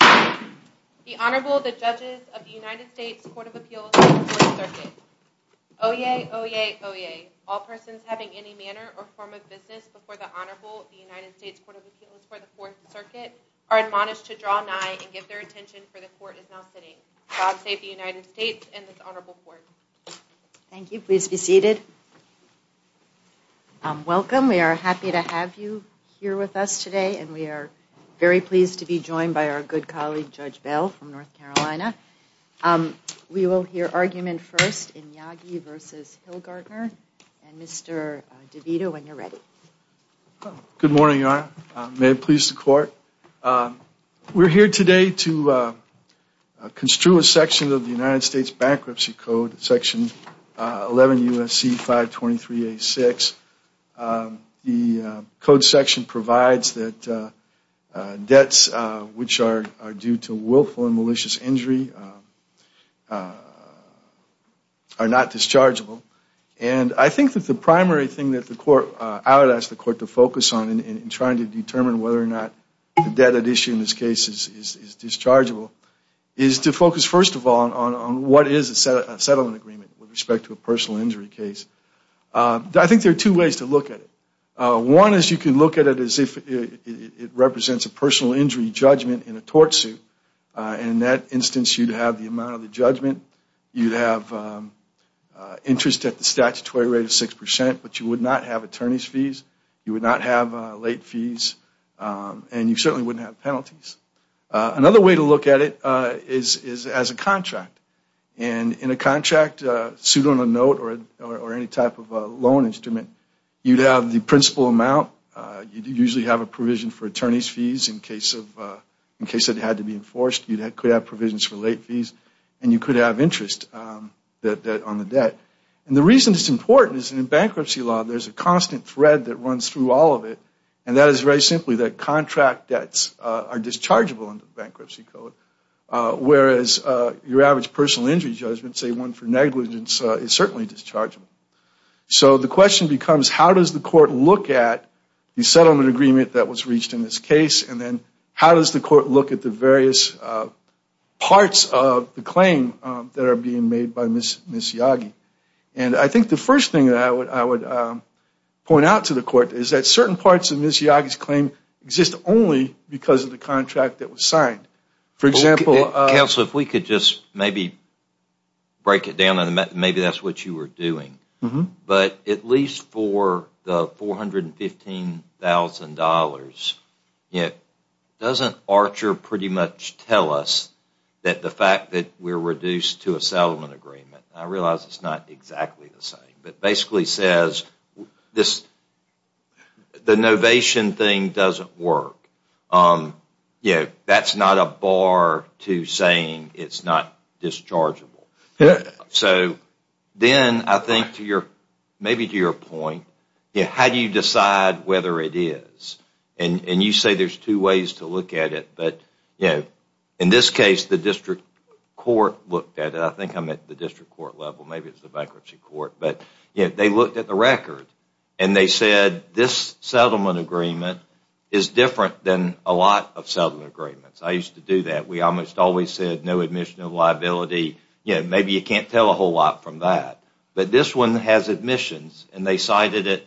The Honorable, the Judges of the United States Court of Appeals for the Fourth Circuit. Oyez, oyez, oyez. All persons having any manner or form of business before the Honorable, the United States Court of Appeals for the Fourth Circuit, are admonished to draw nigh and give their attention, for the Court is now sitting. God save the United States and this Honorable Court. Thank you. Please be seated. Welcome. We are happy to have you here with us today and we are very pleased to be joined by our good colleague, Judge Bell from North Carolina. We will hear argument first in Yagi v. Hilgartner and Mr. DeVito, when you're ready. Good morning, Your Honor. May it please the Court. We're here today to construe a section of the United States Bankruptcy Code, Section 11 U.S.C. 523-A-6. The code section provides that debts which are due to willful and malicious injury are not dischargeable. And I think that the primary thing that I would ask the Court to focus on in trying to determine whether or not the debt at issue in this case is dischargeable, is to focus first of all on what is a settlement agreement with respect to a personal injury case. I think there are two ways to look at it. One is you can look at it as if it represents a personal injury judgment in a tort suit. In that instance, you'd have the amount of the judgment, you'd have interest at the statutory rate of 6%, but you would not have attorney's fees, you would not have late fees, and you certainly wouldn't have penalties. Another way to look at it is as a contract. And in a contract, suit on a note or any type of loan instrument, you'd have the principal amount. You'd usually have a provision for attorney's fees in case it had to be enforced. You could have provisions for late fees, and you could have interest on the debt. And the reason it's important is in bankruptcy law, there's a constant thread that runs through all of it, and that is very simply that contract debts are dischargeable under the Bankruptcy Code, whereas your average personal injury judgment, say one for negligence, is certainly dischargeable. So the question becomes how does the court look at the settlement agreement that was reached in this case, and then how does the court look at the various parts of the claim that are being made by Ms. Yagi? And I think the first thing that I would point out to the court is that certain parts of Ms. Yagi's claim exist only because of the contract that was signed. Counsel, if we could just maybe break it down, and maybe that's what you were doing. But at least for the $415,000, doesn't Archer pretty much tell us that the fact that we're reduced to a settlement agreement, and I realize it's not exactly the same, but basically says the novation thing doesn't work. That's not a bar to saying it's not dischargeable. So then I think maybe to your point, how do you decide whether it is? And you say there's two ways to look at it, but in this case, the district court looked at it. I think I'm at the district court level. Maybe it's the bankruptcy court. But they looked at the record, and they said this settlement agreement is different than a lot of settlement agreements. I used to do that. We almost always said no admission of liability. Maybe you can't tell a whole lot from that. But this one has admissions, and the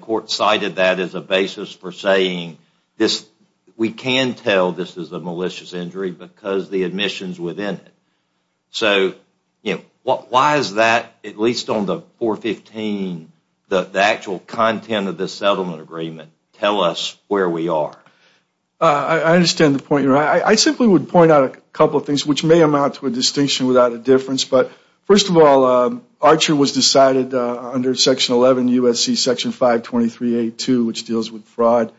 court cited that as a basis for saying we can tell this is a malicious injury because the admissions within it. So why is that, at least on the $415,000, the actual content of this settlement agreement tell us where we are? I understand the point you're making. I simply would point out a couple of things, which may amount to a distinction without a difference. But first of all, Archer was decided under Section 11 U.S.C. Section 523A2, which deals with fraud.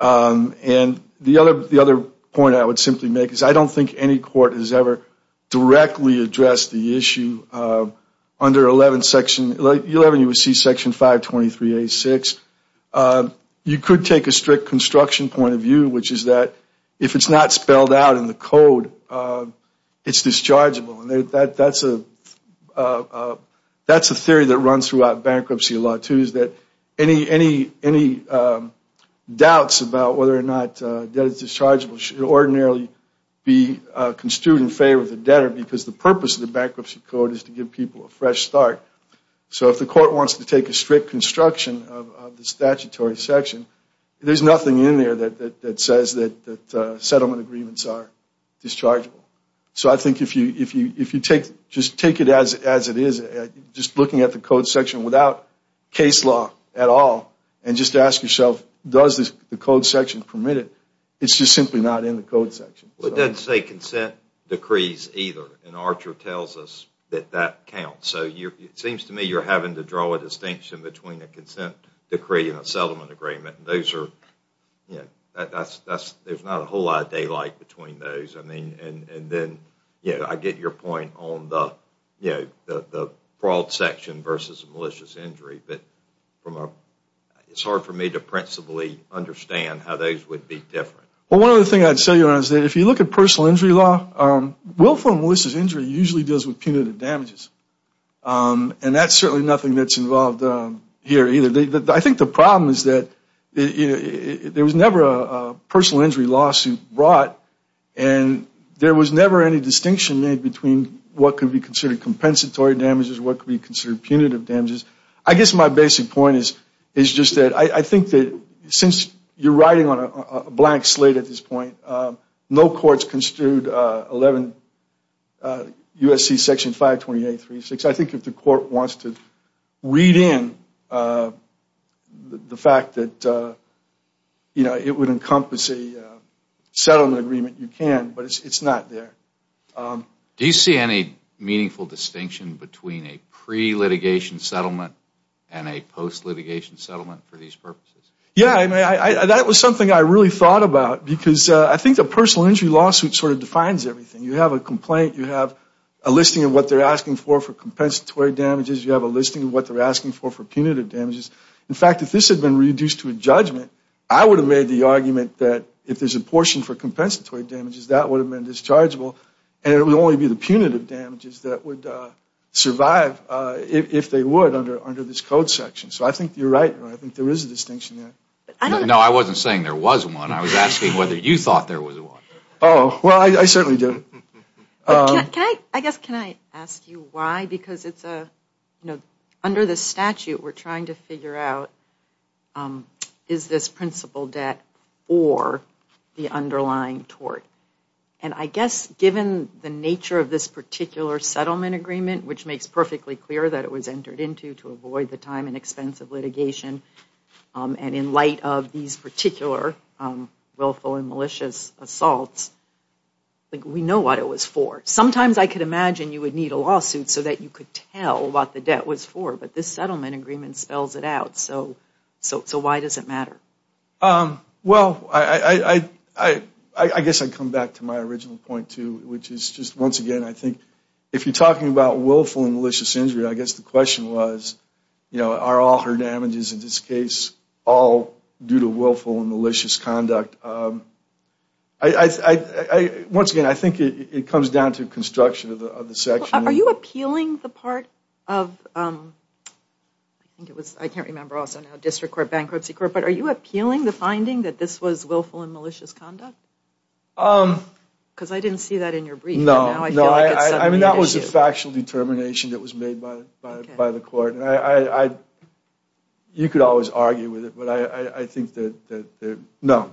And the other point I would simply make is I don't think any court has ever directly addressed the issue under 11 U.S.C. Section 523A6. You could take a strict construction point of view, which is that if it's not spelled out in the code, it's dischargeable. That's a theory that runs throughout bankruptcy law, too, is that any doubts about whether or not debt is dischargeable should ordinarily be construed in favor of the debtor because the purpose of the bankruptcy code is to give people a fresh start. So if the court wants to take a strict construction of the statutory section, there's nothing in there that says that settlement agreements are dischargeable. So I think if you take it as it is, just looking at the code section without case law at all, and just ask yourself, does the code section permit it? It's just simply not in the code section. It doesn't say consent decrees either, and Archer tells us that that counts. So it seems to me you're having to draw a distinction between a consent decree and a settlement agreement. There's not a whole lot of daylight between those. And then I get your point on the fraud section versus malicious injury. But it's hard for me to principally understand how those would be different. Well, one other thing I'd say is that if you look at personal injury law, willful and malicious injury usually deals with punitive damages. And that's certainly nothing that's involved here either. I think the problem is that there was never a personal injury lawsuit brought, and there was never any distinction made between what could be considered compensatory damages and what could be considered punitive damages. I guess my basic point is just that I think that since you're riding on a blank slate at this point, no court's construed 11 U.S.C. Section 52836. I think if the court wants to read in the fact that it would encompass a settlement agreement, you can. But it's not there. Do you see any meaningful distinction between a pre-litigation settlement and a post-litigation settlement for these purposes? Yeah. That was something I really thought about because I think the personal injury lawsuit sort of defines everything. You have a complaint. You have a listing of what they're asking for for compensatory damages. You have a listing of what they're asking for for punitive damages. In fact, if this had been reduced to a judgment, I would have made the argument that if there's a portion for compensatory damages, that would have been dischargeable, and it would only be the punitive damages that would survive if they would under this code section. So I think you're right. I think there is a distinction there. No, I wasn't saying there was one. I was asking whether you thought there was one. Oh, well, I certainly do. I guess can I ask you why? Because under the statute, we're trying to figure out is this principal debt or the underlying tort. And I guess given the nature of this particular settlement agreement, which makes perfectly clear that it was entered into to avoid the time and expense of litigation, and in light of these particular willful and malicious assaults, we know what it was for. Sometimes I could imagine you would need a lawsuit so that you could tell what the debt was for, but this settlement agreement spells it out. So why does it matter? Well, I guess I'd come back to my original point, too, which is just once again, I think if you're talking about willful and malicious injury, I guess the question was, you know, are all her damages in this case all due to willful and malicious conduct? Once again, I think it comes down to construction of the section. Are you appealing the part of, I think it was, I can't remember also now, district court, bankruptcy court, but are you appealing the finding that this was willful and malicious conduct? Because I didn't see that in your brief. No. I mean, that was a factual determination that was made by the court. You could always argue with it, but I think that, no.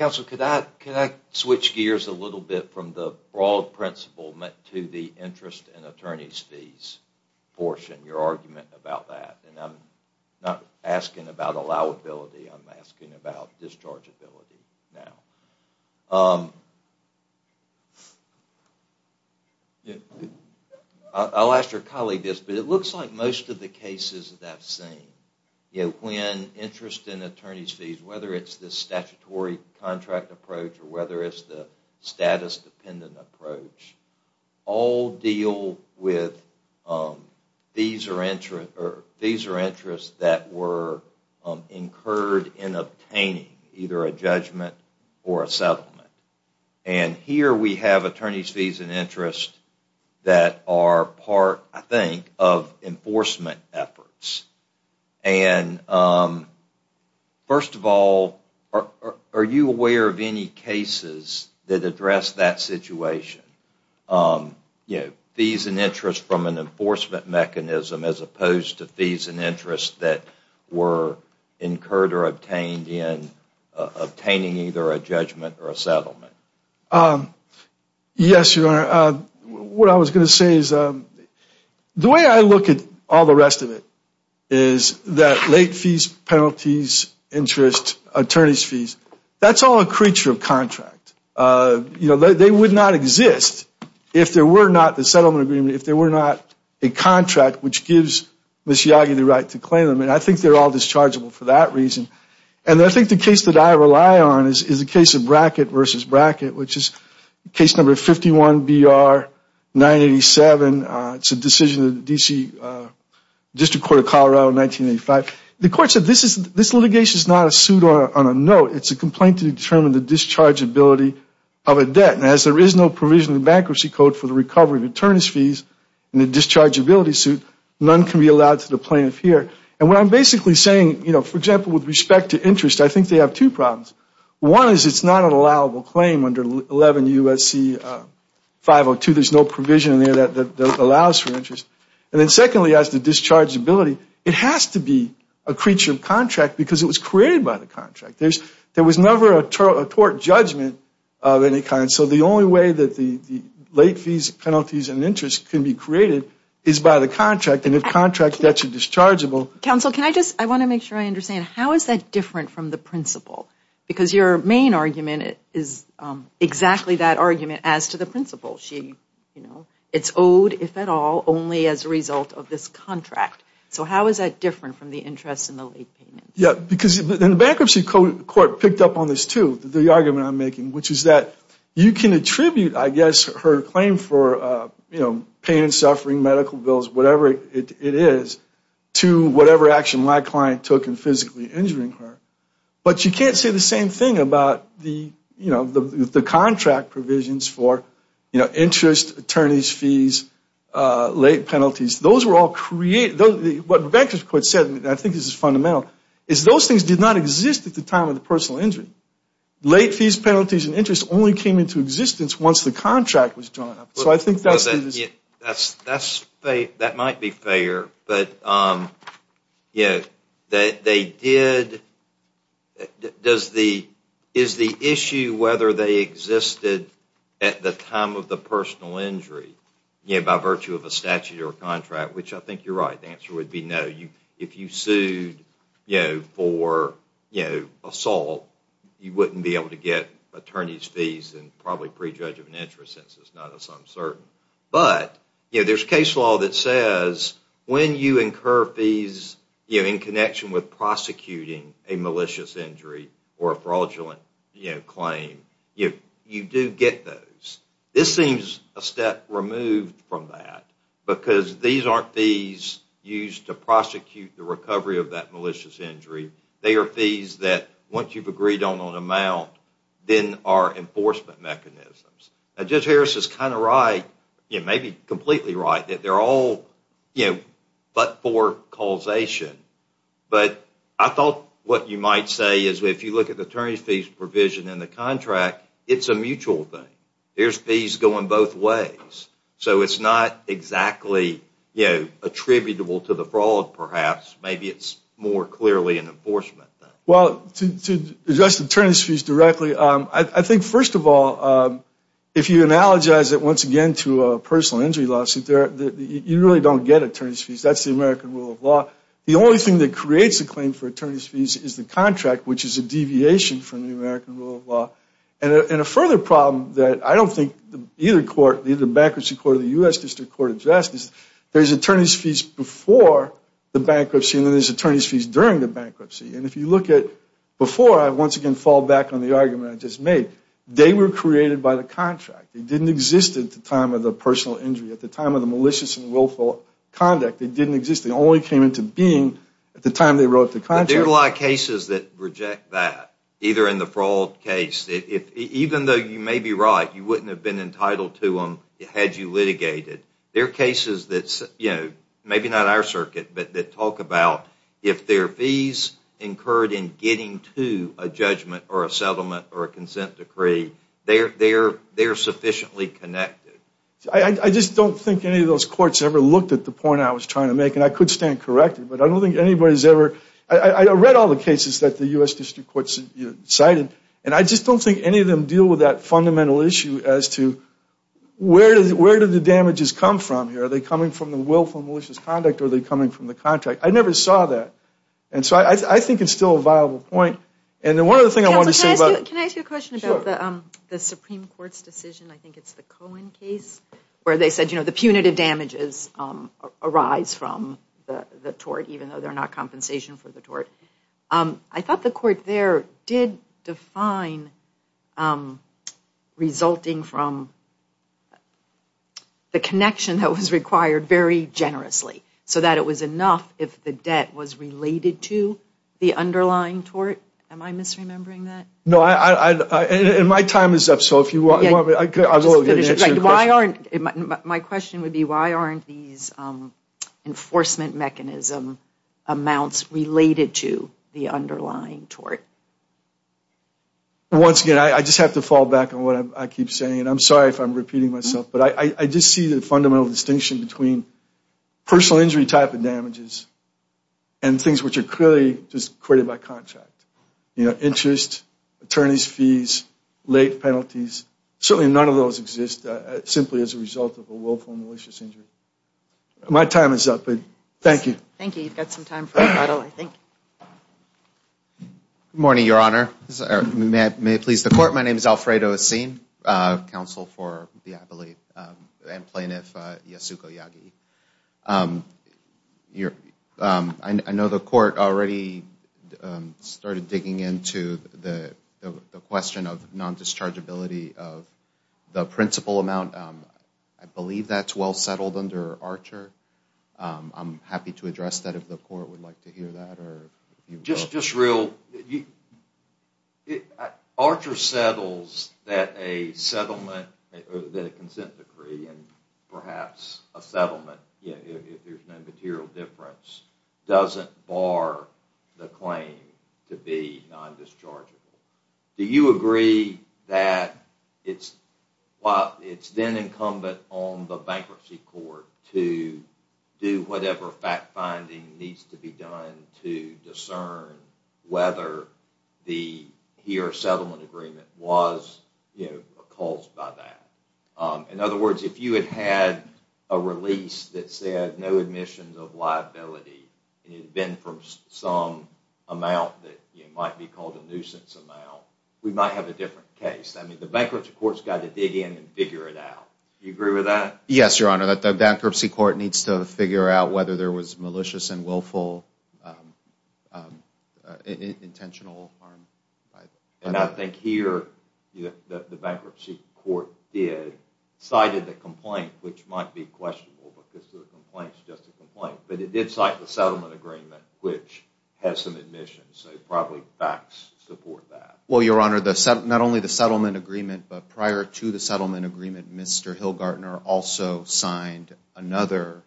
Counsel, could I switch gears a little bit from the broad principle to the interest and attorney's fees portion, your argument about that? And I'm not asking about allowability. I'm asking about dischargeability now. I'll ask your colleague this, but it looks like most of the cases that I've seen, when interest and attorney's fees, whether it's the statutory contract approach or whether it's the status-dependent approach, all deal with fees or interest that were incurred in obtaining either a judgment or a settlement. And here we have attorney's fees and interest that are part, I think, of enforcement efforts. And first of all, are you aware of any cases that address that situation? Fees and interest from an enforcement mechanism as opposed to fees and interest that were incurred or obtained in obtaining either a judgment or a settlement. Yes, Your Honor. What I was going to say is the way I look at all the rest of it is that late fees, penalties, interest, attorney's fees, that's all a creature of contract. You know, they would not exist if there were not the settlement agreement, if there were not a contract which gives Ms. Yagi the right to claim them. And I think they're all dischargeable for that reason. And I think the case that I rely on is the case of Brackett versus Brackett, which is case number 51BR987. It's a decision of the D.C. District Court of Colorado in 1985. The court said this litigation is not a suit on a note. It's a complaint to determine the dischargeability of a debt. And as there is no provision in the Bankruptcy Code for the recovery of attorney's fees in the dischargeability suit, none can be allowed to the plaintiff here. And what I'm basically saying, you know, for example, with respect to interest, I think they have two problems. One is it's not an allowable claim under 11 U.S.C. 502. There's no provision in there that allows for interest. And then secondly, as to dischargeability, it has to be a creature of contract because it was created by the contract. There was never a tort judgment of any kind. So the only way that the late fees, penalties, and interest can be created is by the contract. And if contract debts are dischargeable. Counsel, can I just, I want to make sure I understand. How is that different from the principle? Because your main argument is exactly that argument as to the principle. It's owed, if at all, only as a result of this contract. So how is that different from the interest and the late payment? Yeah, because the Bankruptcy Court picked up on this too, the argument I'm making, which is that you can attribute, I guess, her claim for, you know, pain and suffering, medical bills, whatever it is, to whatever action my client took in physically injuring her. But you can't say the same thing about the, you know, the contract provisions for, you know, interest, attorneys' fees, late penalties. Those were all created. What the Bankruptcy Court said, and I think this is fundamental, is those things did not exist at the time of the personal injury. Late fees, penalties, and interest only came into existence once the contract was drawn up. So I think that's the... That might be fair, but, you know, they did... Is the issue whether they existed at the time of the personal injury, you know, by virtue of a statute or a contract, which I think you're right, the answer would be no. If you sued, you know, for, you know, assault, you wouldn't be able to get attorney's fees and probably prejudge of an interest since it's not as uncertain. But, you know, there's case law that says when you incur fees, you know, in connection with prosecuting a malicious injury or a fraudulent, you know, claim, you do get those. This seems a step removed from that because these aren't fees used to prosecute the recovery of that malicious injury. They are fees that, once you've agreed on an amount, then are enforcement mechanisms. Judge Harris is kind of right, you know, maybe completely right, that they're all, you know, but for causation. But I thought what you might say is if you look at the attorney's fees provision in the contract, it's a mutual thing. There's fees going both ways. So it's not exactly, you know, attributable to the fraud, perhaps. Maybe it's more clearly an enforcement thing. Well, to address attorney's fees directly, I think, first of all, if you analogize it, once again, to a personal injury lawsuit, you really don't get attorney's fees. That's the American rule of law. The only thing that creates a claim for attorney's fees is the contract, which is a deviation from the American rule of law. And a further problem that I don't think either court, either the bankruptcy court or the U.S. District Court of Justice, there's attorney's fees before the bankruptcy and then there's attorney's fees during the bankruptcy. And if you look at before, I once again fall back on the argument I just made. They were created by the contract. They didn't exist at the time of the personal injury, at the time of the malicious and willful conduct. They didn't exist. They only came into being at the time they wrote the contract. But there are a lot of cases that reject that, either in the fraud case. Even though you may be right, you wouldn't have been entitled to them had you litigated. There are cases that, you know, maybe not our circuit, but that talk about if there are fees incurred in getting to a judgment or a settlement or a consent decree, they're sufficiently connected. I just don't think any of those courts ever looked at the point I was trying to make. And I could stand corrected, but I don't think anybody's ever – I read all the cases that the U.S. District Courts cited and I just don't think any of them deal with that fundamental issue as to where do the damages come from here. Are they coming from the willful malicious conduct or are they coming from the contract? I never saw that. And so I think it's still a viable point. Can I ask you a question about the Supreme Court's decision? I think it's the Cohen case where they said, you know, the punitive damages arise from the tort, even though they're not compensation for the tort. I thought the court there did define resulting from the connection that was required very generously so that it was enough if the debt was related to the underlying tort. Am I misremembering that? No. And my time is up, so if you want – Just finish your question. My question would be why aren't these enforcement mechanism amounts related to the underlying tort? Once again, I just have to fall back on what I keep saying, and I'm sorry if I'm repeating myself, but I just see the fundamental distinction between personal injury type of damages and things which are clearly just created by contract. You know, interest, attorney's fees, late penalties. Certainly none of those exist simply as a result of a willful malicious injury. My time is up, but thank you. Thank you. You've got some time for rebuttal, I think. Good morning, Your Honor. May it please the Court. Good morning, Your Honor. My name is Alfredo Acin, Counsel for the – I believe – and Plaintiff Yasuko Yagi. I know the Court already started digging into the question of non-dischargeability of the principal amount. I believe that's well settled under Archer. I'm happy to address that if the Court would like to hear that. Just real – Archer settles that a settlement – that a consent decree and perhaps a settlement, if there's no material difference, doesn't bar the claim to be non-dischargeable. Do you agree that it's – it's then incumbent on the Bankruptcy Court to do whatever fact-finding needs to be done to discern whether the – he or settlement agreement was, you know, caused by that. In other words, if you had had a release that said no admissions of liability, and it had been from some amount that might be called a nuisance amount, we might have a different case. I mean, the Bankruptcy Court's got to dig in and figure it out. Do you agree with that? Yes, Your Honor. The Bankruptcy Court needs to figure out whether there was malicious and willful intentional harm. And I think here the Bankruptcy Court did cite a complaint, which might be questionable because the complaint's just a complaint, but it did cite the settlement agreement, which has some admissions, so probably facts support that. Well, Your Honor, not only the settlement agreement, but prior to the settlement agreement, Mr. Hilgartner also signed another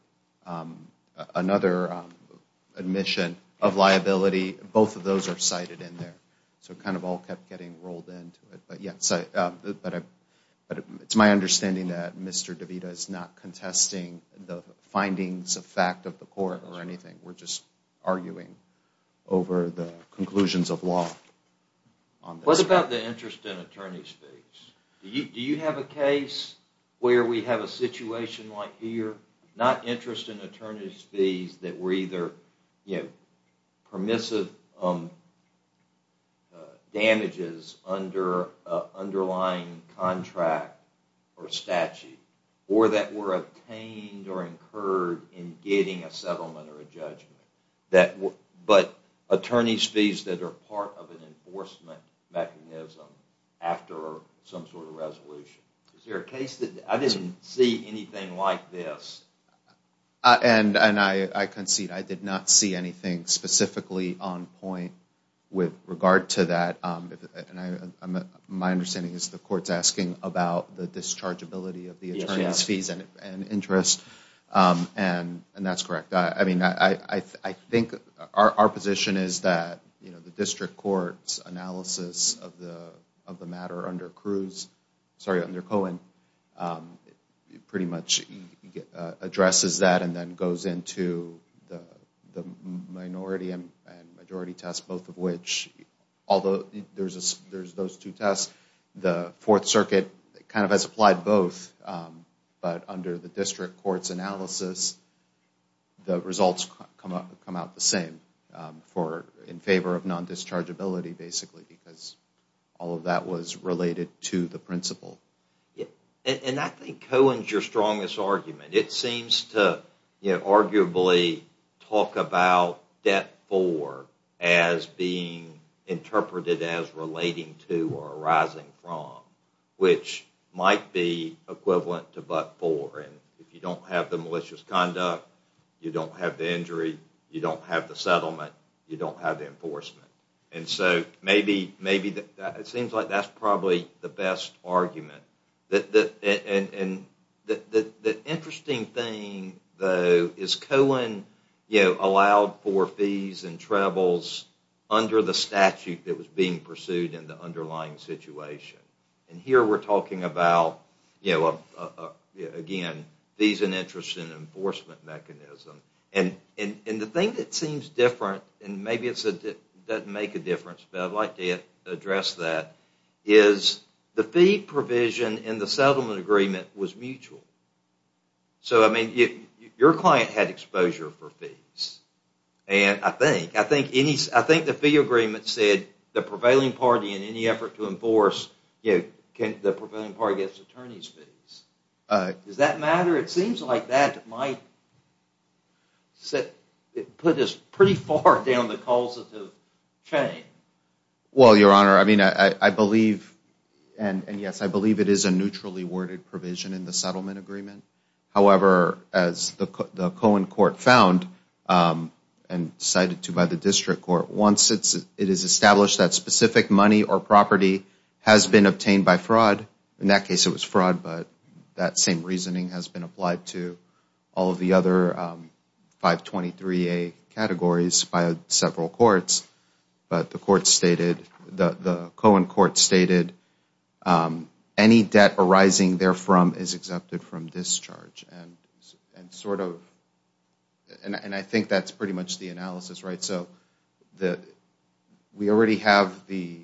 admission of liability. Both of those are cited in there. So it kind of all kept getting rolled into it. But it's my understanding that Mr. DeVita is not contesting the findings of fact of the court or anything. We're just arguing over the conclusions of law. What about the interest in attorney's fees? Do you have a case where we have a situation like here, not interest in attorney's fees that were either permissive damages under an underlying contract or statute, or that were obtained or incurred in getting a settlement or a judgment, but attorney's fees that are part of an enforcement mechanism after some sort of resolution? Is there a case that I didn't see anything like this? And I concede I did not see anything specifically on point with regard to that. My understanding is the court's asking about the dischargeability of the attorney's fees and interest, and that's correct. I mean, I think our position is that, you know, the district court's analysis of the matter under Cohen pretty much addresses that and then goes into the minority and majority test, both of which, although there's those two tests, the Fourth Circuit kind of has applied both. But under the district court's analysis, the results come out the same in favor of non-dischargeability, basically, because all of that was related to the principle. And I think Cohen's your strongest argument. It seems to arguably talk about debt-for as being interpreted as relating to or arising from, which might be equivalent to but-for. And if you don't have the malicious conduct, you don't have the injury, you don't have the settlement, you don't have the enforcement. And so it seems like that's probably the best argument. And the interesting thing, though, is Cohen allowed for fees and troubles under the statute that was being pursued in the underlying situation. And here we're talking about, you know, again, fees and interest and enforcement mechanism. And the thing that seems different, and maybe it doesn't make a difference, but I'd like to address that, is the fee provision in the settlement agreement was mutual. So, I mean, your client had exposure for fees. And I think the fee agreement said the prevailing party, in any effort to enforce, the prevailing party gets attorney's fees. Does that matter? It seems like that might put us pretty far down the causative chain. Well, Your Honor, I mean, I believe, and yes, I believe it is a neutrally worded provision in the settlement agreement. However, as the Cohen court found and cited to by the district court, once it is established that specific money or property has been obtained by fraud, in that case it was fraud, but that same reasoning has been applied to all of the other 523A categories by several courts. But the court stated, the Cohen court stated, any debt arising therefrom is exempted from discharge. And sort of, and I think that's pretty much the analysis, right? So, we already have the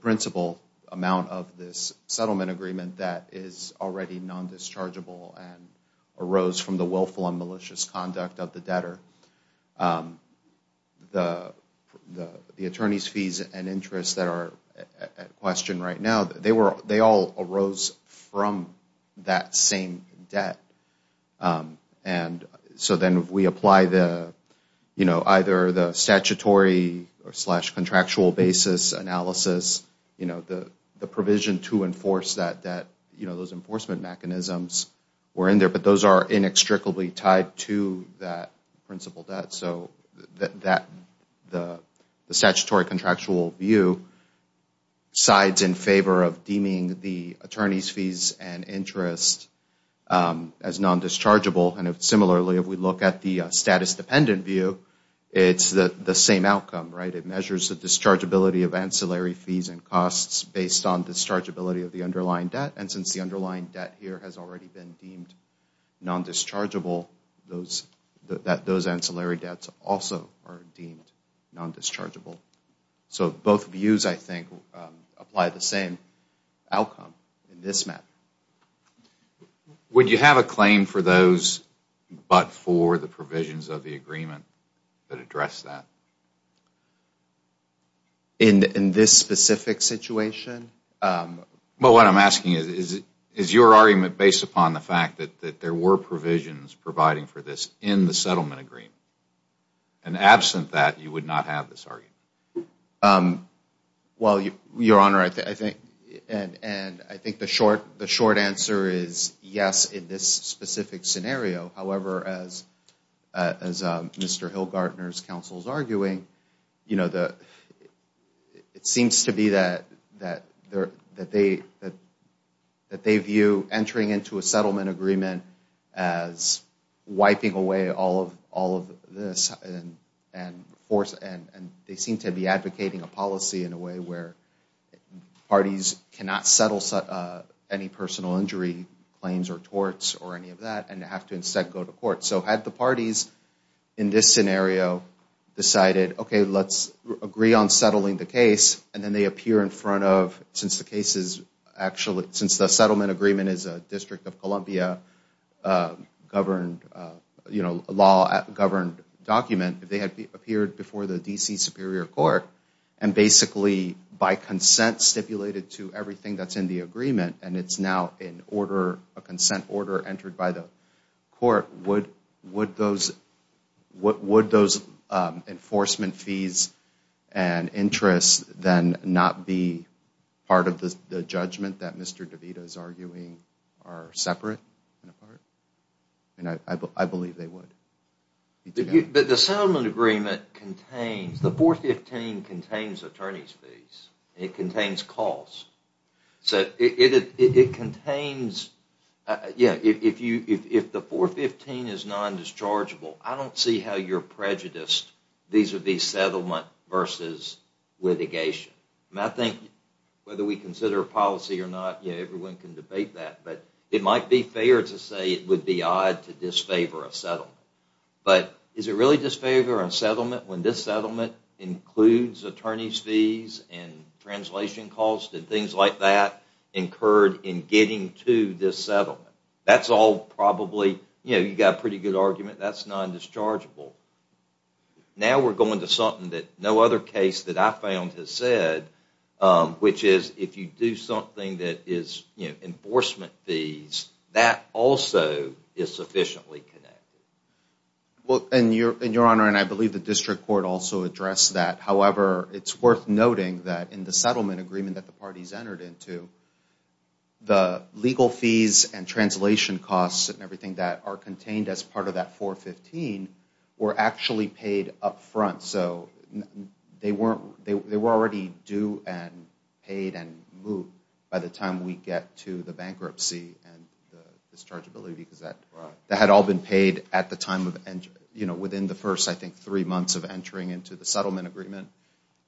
principal amount of this settlement agreement that is already non-dischargeable and arose from the willful and malicious conduct of the debtor. The attorney's fees and interests that are at question right now, they all arose from that same debt. And so then if we apply the, you know, either the statutory or slash contractual basis analysis, you know, the provision to enforce that, you know, those enforcement mechanisms were in there, but those are inextricably tied to that principal debt. So, the statutory contractual view sides in favor of deeming the attorney's fees and interest as non-dischargeable. And similarly, if we look at the status dependent view, it's the same outcome, right? It measures the dischargeability of ancillary fees and costs based on dischargeability of the underlying debt. And since the underlying debt here has already been deemed non-dischargeable, those ancillary debts also are deemed non-dischargeable. So, both views, I think, apply the same outcome in this matter. Would you have a claim for those but for the provisions of the agreement that address that? In this specific situation? Well, what I'm asking is, is your argument based upon the fact that there were provisions providing for this in the settlement agreement? And absent that, you would not have this argument? Well, Your Honor, I think the short answer is yes in this specific scenario. However, as Mr. Hilgartner's counsel is arguing, it seems to be that they view entering into a settlement agreement as wiping away all of this and they seem to be advocating a policy in a way where parties cannot settle any personal injury claims or torts or any of that and have to instead go to court. So, had the parties in this scenario decided, okay, let's agree on settling the case, and then they appear in front of, since the settlement agreement is a District of Columbia governed document, if they had appeared before the D.C. Superior Court and basically by consent stipulated to everything that's in the agreement and it's now a consent order entered by the court, would those enforcement fees and interests then not be part of the judgment that Mr. DeVito is arguing are separate in a part? I believe they would. But the settlement agreement contains, the 415 contains attorney's fees. It contains costs. It contains, yeah, if the 415 is non-dischargeable, I don't see how you're prejudiced. These would be settlement versus litigation. I think whether we consider a policy or not, everyone can debate that, but it might be fair to say it would be odd to disfavor a settlement. But is it really disfavor a settlement when this settlement includes attorney's fees and translation costs and things like that incurred in getting to this settlement? That's all probably, you know, you've got a pretty good argument. That's non-dischargeable. Now we're going to something that no other case that I found has said, which is if you do something that is, you know, enforcement fees, that also is sufficiently connected. Well, and Your Honor, and I believe the District Court also addressed that. However, it's worth noting that in the settlement agreement that the parties entered into, the legal fees and translation costs and everything that are contained as part of that 415 were actually paid up front. So they were already due and paid and moved by the time we get to the bankruptcy and the dischargeability because that had all been paid at the time of, you know, within the first, I think, three months of entering into the settlement agreement.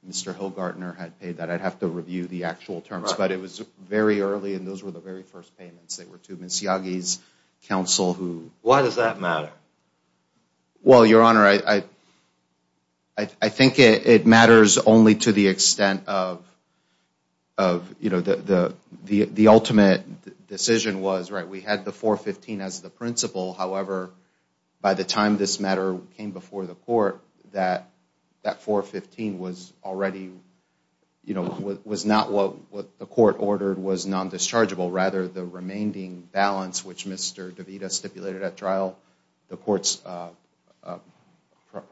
Mr. Hilgartner had paid that. I'd have to review the actual terms. But it was very early, and those were the very first payments. They were to Ms. Yagi's counsel who... Why does that matter? Well, Your Honor, I think it matters only to the extent of, you know, the ultimate decision was, right, we had the 415 as the principle. However, by the time this matter came before the court, that 415 was already, you know, was not what the court ordered was non-dischargeable. Rather, the remaining balance, which Mr. DeVita stipulated at trial, the court's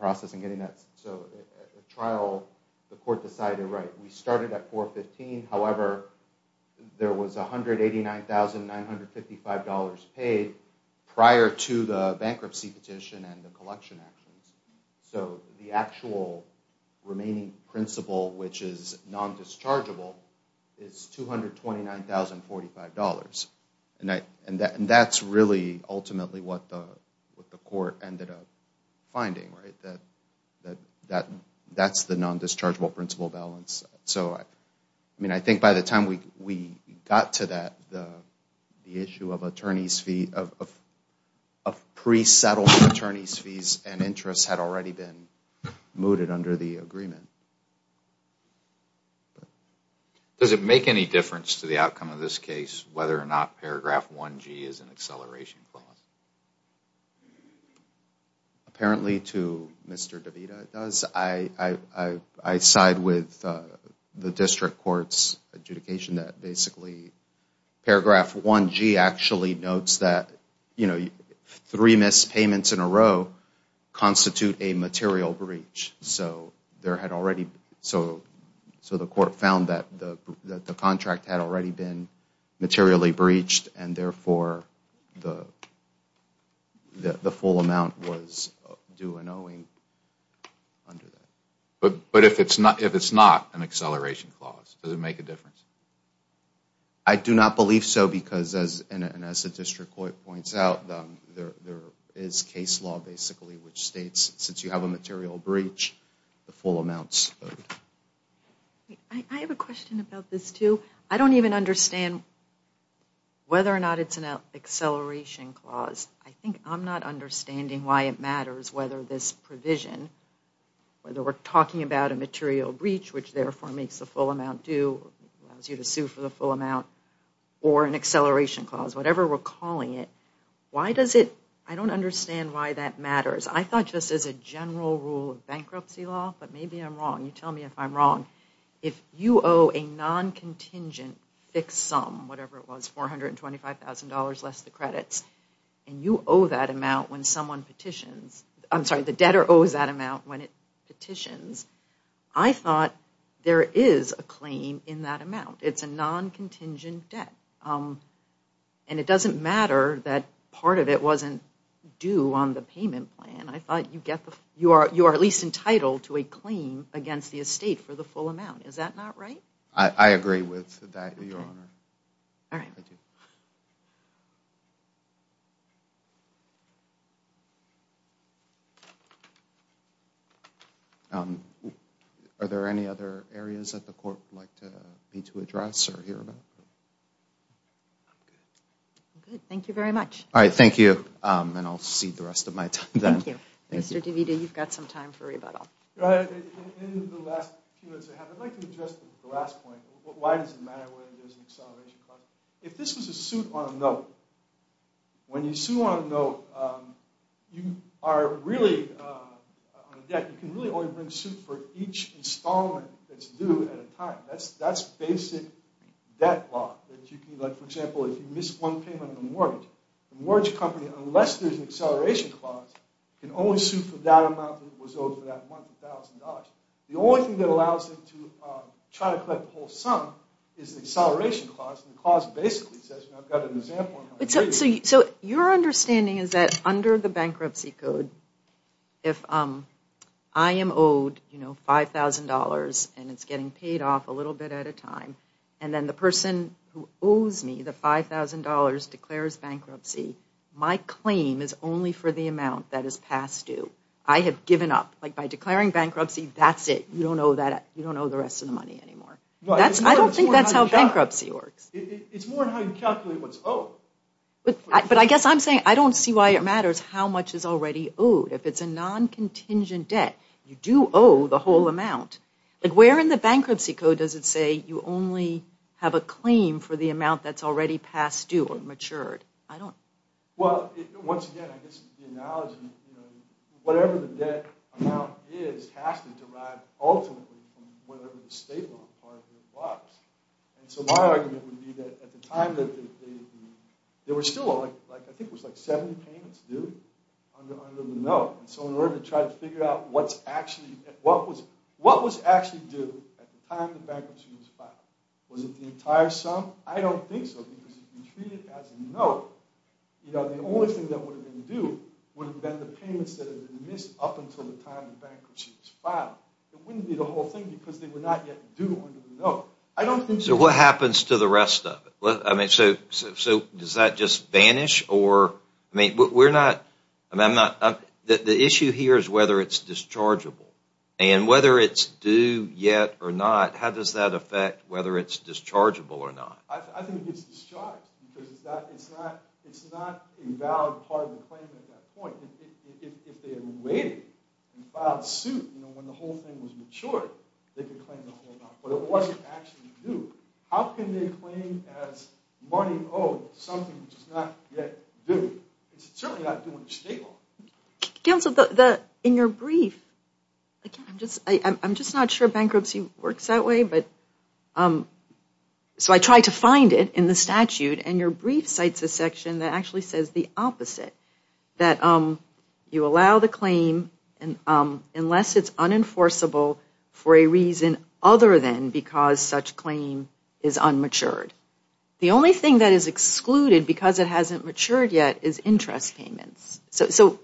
process in getting that. So at trial, the court decided, right, we started at 415. However, there was $189,955 paid prior to the bankruptcy petition and the collection actions. So the actual remaining principle, which is non-dischargeable, is $229,045. And that's really ultimately what the court ended up finding, right, that that's the non-dischargeable principle balance. I mean, I think by the time we got to that, the issue of attorneys' fees, of pre-settled attorneys' fees and interests had already been mooted under the agreement. Does it make any difference to the outcome of this case whether or not paragraph 1G is an acceleration clause? Apparently to Mr. DeVita, it does. I side with the district court's adjudication that basically paragraph 1G actually notes that three missed payments in a row constitute a material breach. So the court found that the contract had already been materially breached and therefore the full amount was due an owing under that. But if it's not an acceleration clause, does it make a difference? I do not believe so because as the district court points out, there is case law basically which states since you have a material breach, the full amount's owed. I have a question about this too. I don't even understand whether or not it's an acceleration clause. I think I'm not understanding why it matters whether this provision, whether we're talking about a material breach which therefore makes the full amount due, allows you to sue for the full amount, or an acceleration clause, whatever we're calling it. I don't understand why that matters. I thought just as a general rule of bankruptcy law, but maybe I'm wrong. You tell me if I'm wrong. If you owe a non-contingent fixed sum, whatever it was, $425,000 less the credits, and you owe that amount when someone petitions. I'm sorry, the debtor owes that amount when it petitions. I thought there is a claim in that amount. It's a non-contingent debt. And it doesn't matter that part of it wasn't due on the payment plan. I thought you are at least entitled to a claim against the estate for the full amount. Is that not right? I agree with that, Your Honor. All right. Are there any other areas that the court would like me to address or hear about? Thank you very much. All right, thank you. And I'll cede the rest of my time then. Thank you. Mr. DeVita, you've got some time for rebuttal. In the last few minutes I have, I'd like to address the last point. Why does it matter whether there's an acceleration clause? If this was a suit on a note, when you sue on a note, you are really on a debt. You can really only bring suit for each installment that's due at a time. That's basic debt law. Like, for example, if you miss one payment on a mortgage, the mortgage company, unless there's an acceleration clause, can only sue for that amount that was owed for that month, $1,000. The only thing that allows them to try to collect the whole sum is the acceleration clause. And the clause basically says, I've got an example. So your understanding is that under the bankruptcy code, if I am owed $5,000 and it's getting paid off a little bit at a time, and then the person who owes me the $5,000 declares bankruptcy, my claim is only for the amount that is past due. I have given up. Like, by declaring bankruptcy, that's it. You don't owe the rest of the money anymore. I don't think that's how bankruptcy works. It's more how you calculate what's owed. But I guess I'm saying I don't see why it matters how much is already owed. If it's a non-contingent debt, you do owe the whole amount. Like, where in the bankruptcy code does it say you only have a claim for the amount that's already past due or matured? I don't. Well, once again, I guess the analogy, whatever the debt amount is has to derive ultimately from whatever the state loan part of it was. And so my argument would be that at the time, there were still, I think it was like 70 payments due under the note. And so in order to try to figure out what was actually due at the time the bankruptcy was filed, was it the entire sum? I don't think so because if you treat it as a note, the only thing that would have been due would have been the payments that had been missed up until the time the bankruptcy was filed. It wouldn't be the whole thing because they were not yet due under the note. I don't think so. So what happens to the rest of it? I mean, so does that just vanish? I mean, the issue here is whether it's dischargeable. And whether it's due yet or not, how does that affect whether it's dischargeable or not? I think it's discharged because it's not a valid part of the claim at that point. If they had waited and filed suit when the whole thing was matured, they could claim the whole amount. But it wasn't actually due. How can they claim as money owed something which is not yet due? It's certainly not due under state law. Counsel, in your brief, I'm just not sure bankruptcy works that way. So I tried to find it in the statute, and your brief cites a section that actually says the opposite, that you allow the claim unless it's unenforceable for a reason other than because such claim is unmatured. The only thing that is excluded because it hasn't matured yet is interest payments. So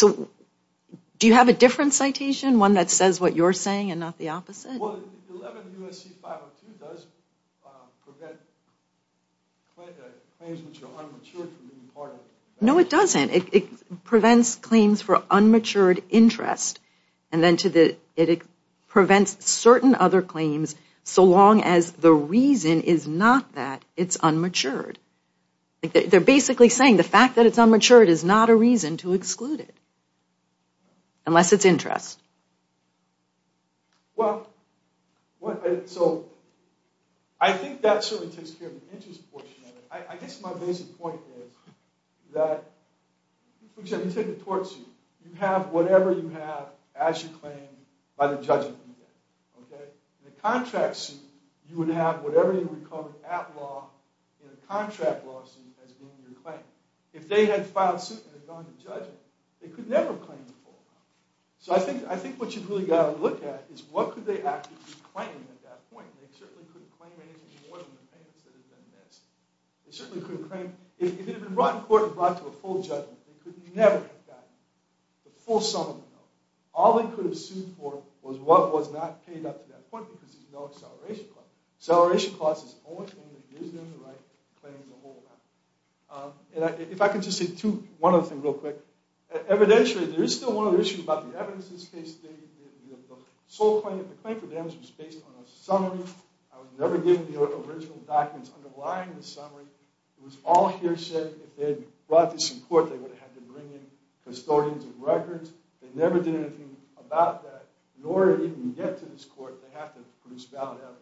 do you have a different citation, one that says what you're saying and not the opposite? Well, 11 U.S.C. 502 does prevent claims which are unmatured from being part of it. No, it doesn't. It prevents claims for unmatured interest. And then it prevents certain other claims so long as the reason is not that it's unmatured. They're basically saying the fact that it's unmatured is not a reason to exclude it unless it's interest. Well, so I think that certainly takes care of the interest portion of it. I guess my basic point is that you have whatever you have, as you claim by the judgment. In a contract suit, you would have whatever you recovered at law in a contract lawsuit as being your claim. If they had filed suit and had gone to judgment, they could never have claimed the full amount. So I think what you've really got to look at is what could they actually be claiming at that point. They certainly couldn't claim anything more than the payments that had been missed. They certainly couldn't claim – if it had been brought in court and brought to a full judgment, they could never have gotten the full sum of the amount. All they could have sued for was what was not paid up to that point because there's no acceleration cost. Acceleration cost is the only thing that gives them the right to claim the whole amount. If I could just say one other thing real quick. Evidentially, there is still one other issue about the evidence in this case. The sole claim – the claim for damage was based on a summary. I was never given the original documents underlying the summary. It was all hearsay. If they had brought this in court, they would have had to bring in custodians and records. They never did anything about that. In order to even get to this court, they have to produce valid evidence.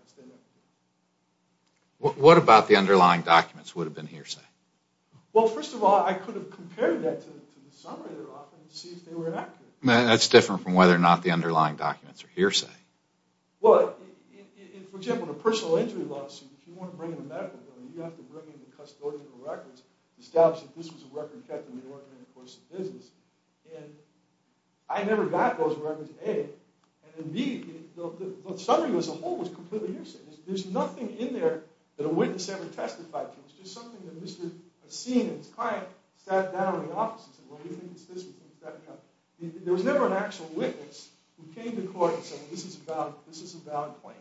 What about the underlying documents would have been hearsay? Well, first of all, I could have compared that to the summary they're offering to see if they were accurate. That's different from whether or not the underlying documents are hearsay. For example, in a personal injury lawsuit, if you want to bring in a medical donor, you have to bring in the custodian and records to establish that this was a record kept and may or may not have been in the course of business. I never got those records, A. And B, the summary as a whole was completely hearsay. There's nothing in there that a witness ever testified to. It's just something that Mr. Asin and his client sat down in the offices and said, well, what do you think this is? There was never an actual witness who came to court and said, well, this is a valid claim.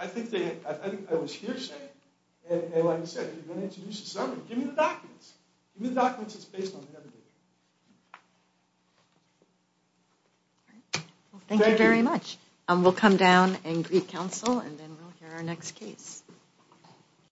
I think I was hearsay. And like I said, if you're going to introduce a summary, give me the documents. Give me the documents that's based on the evidence. Thank you very much. We'll come down and greet counsel, and then we'll hear our next case.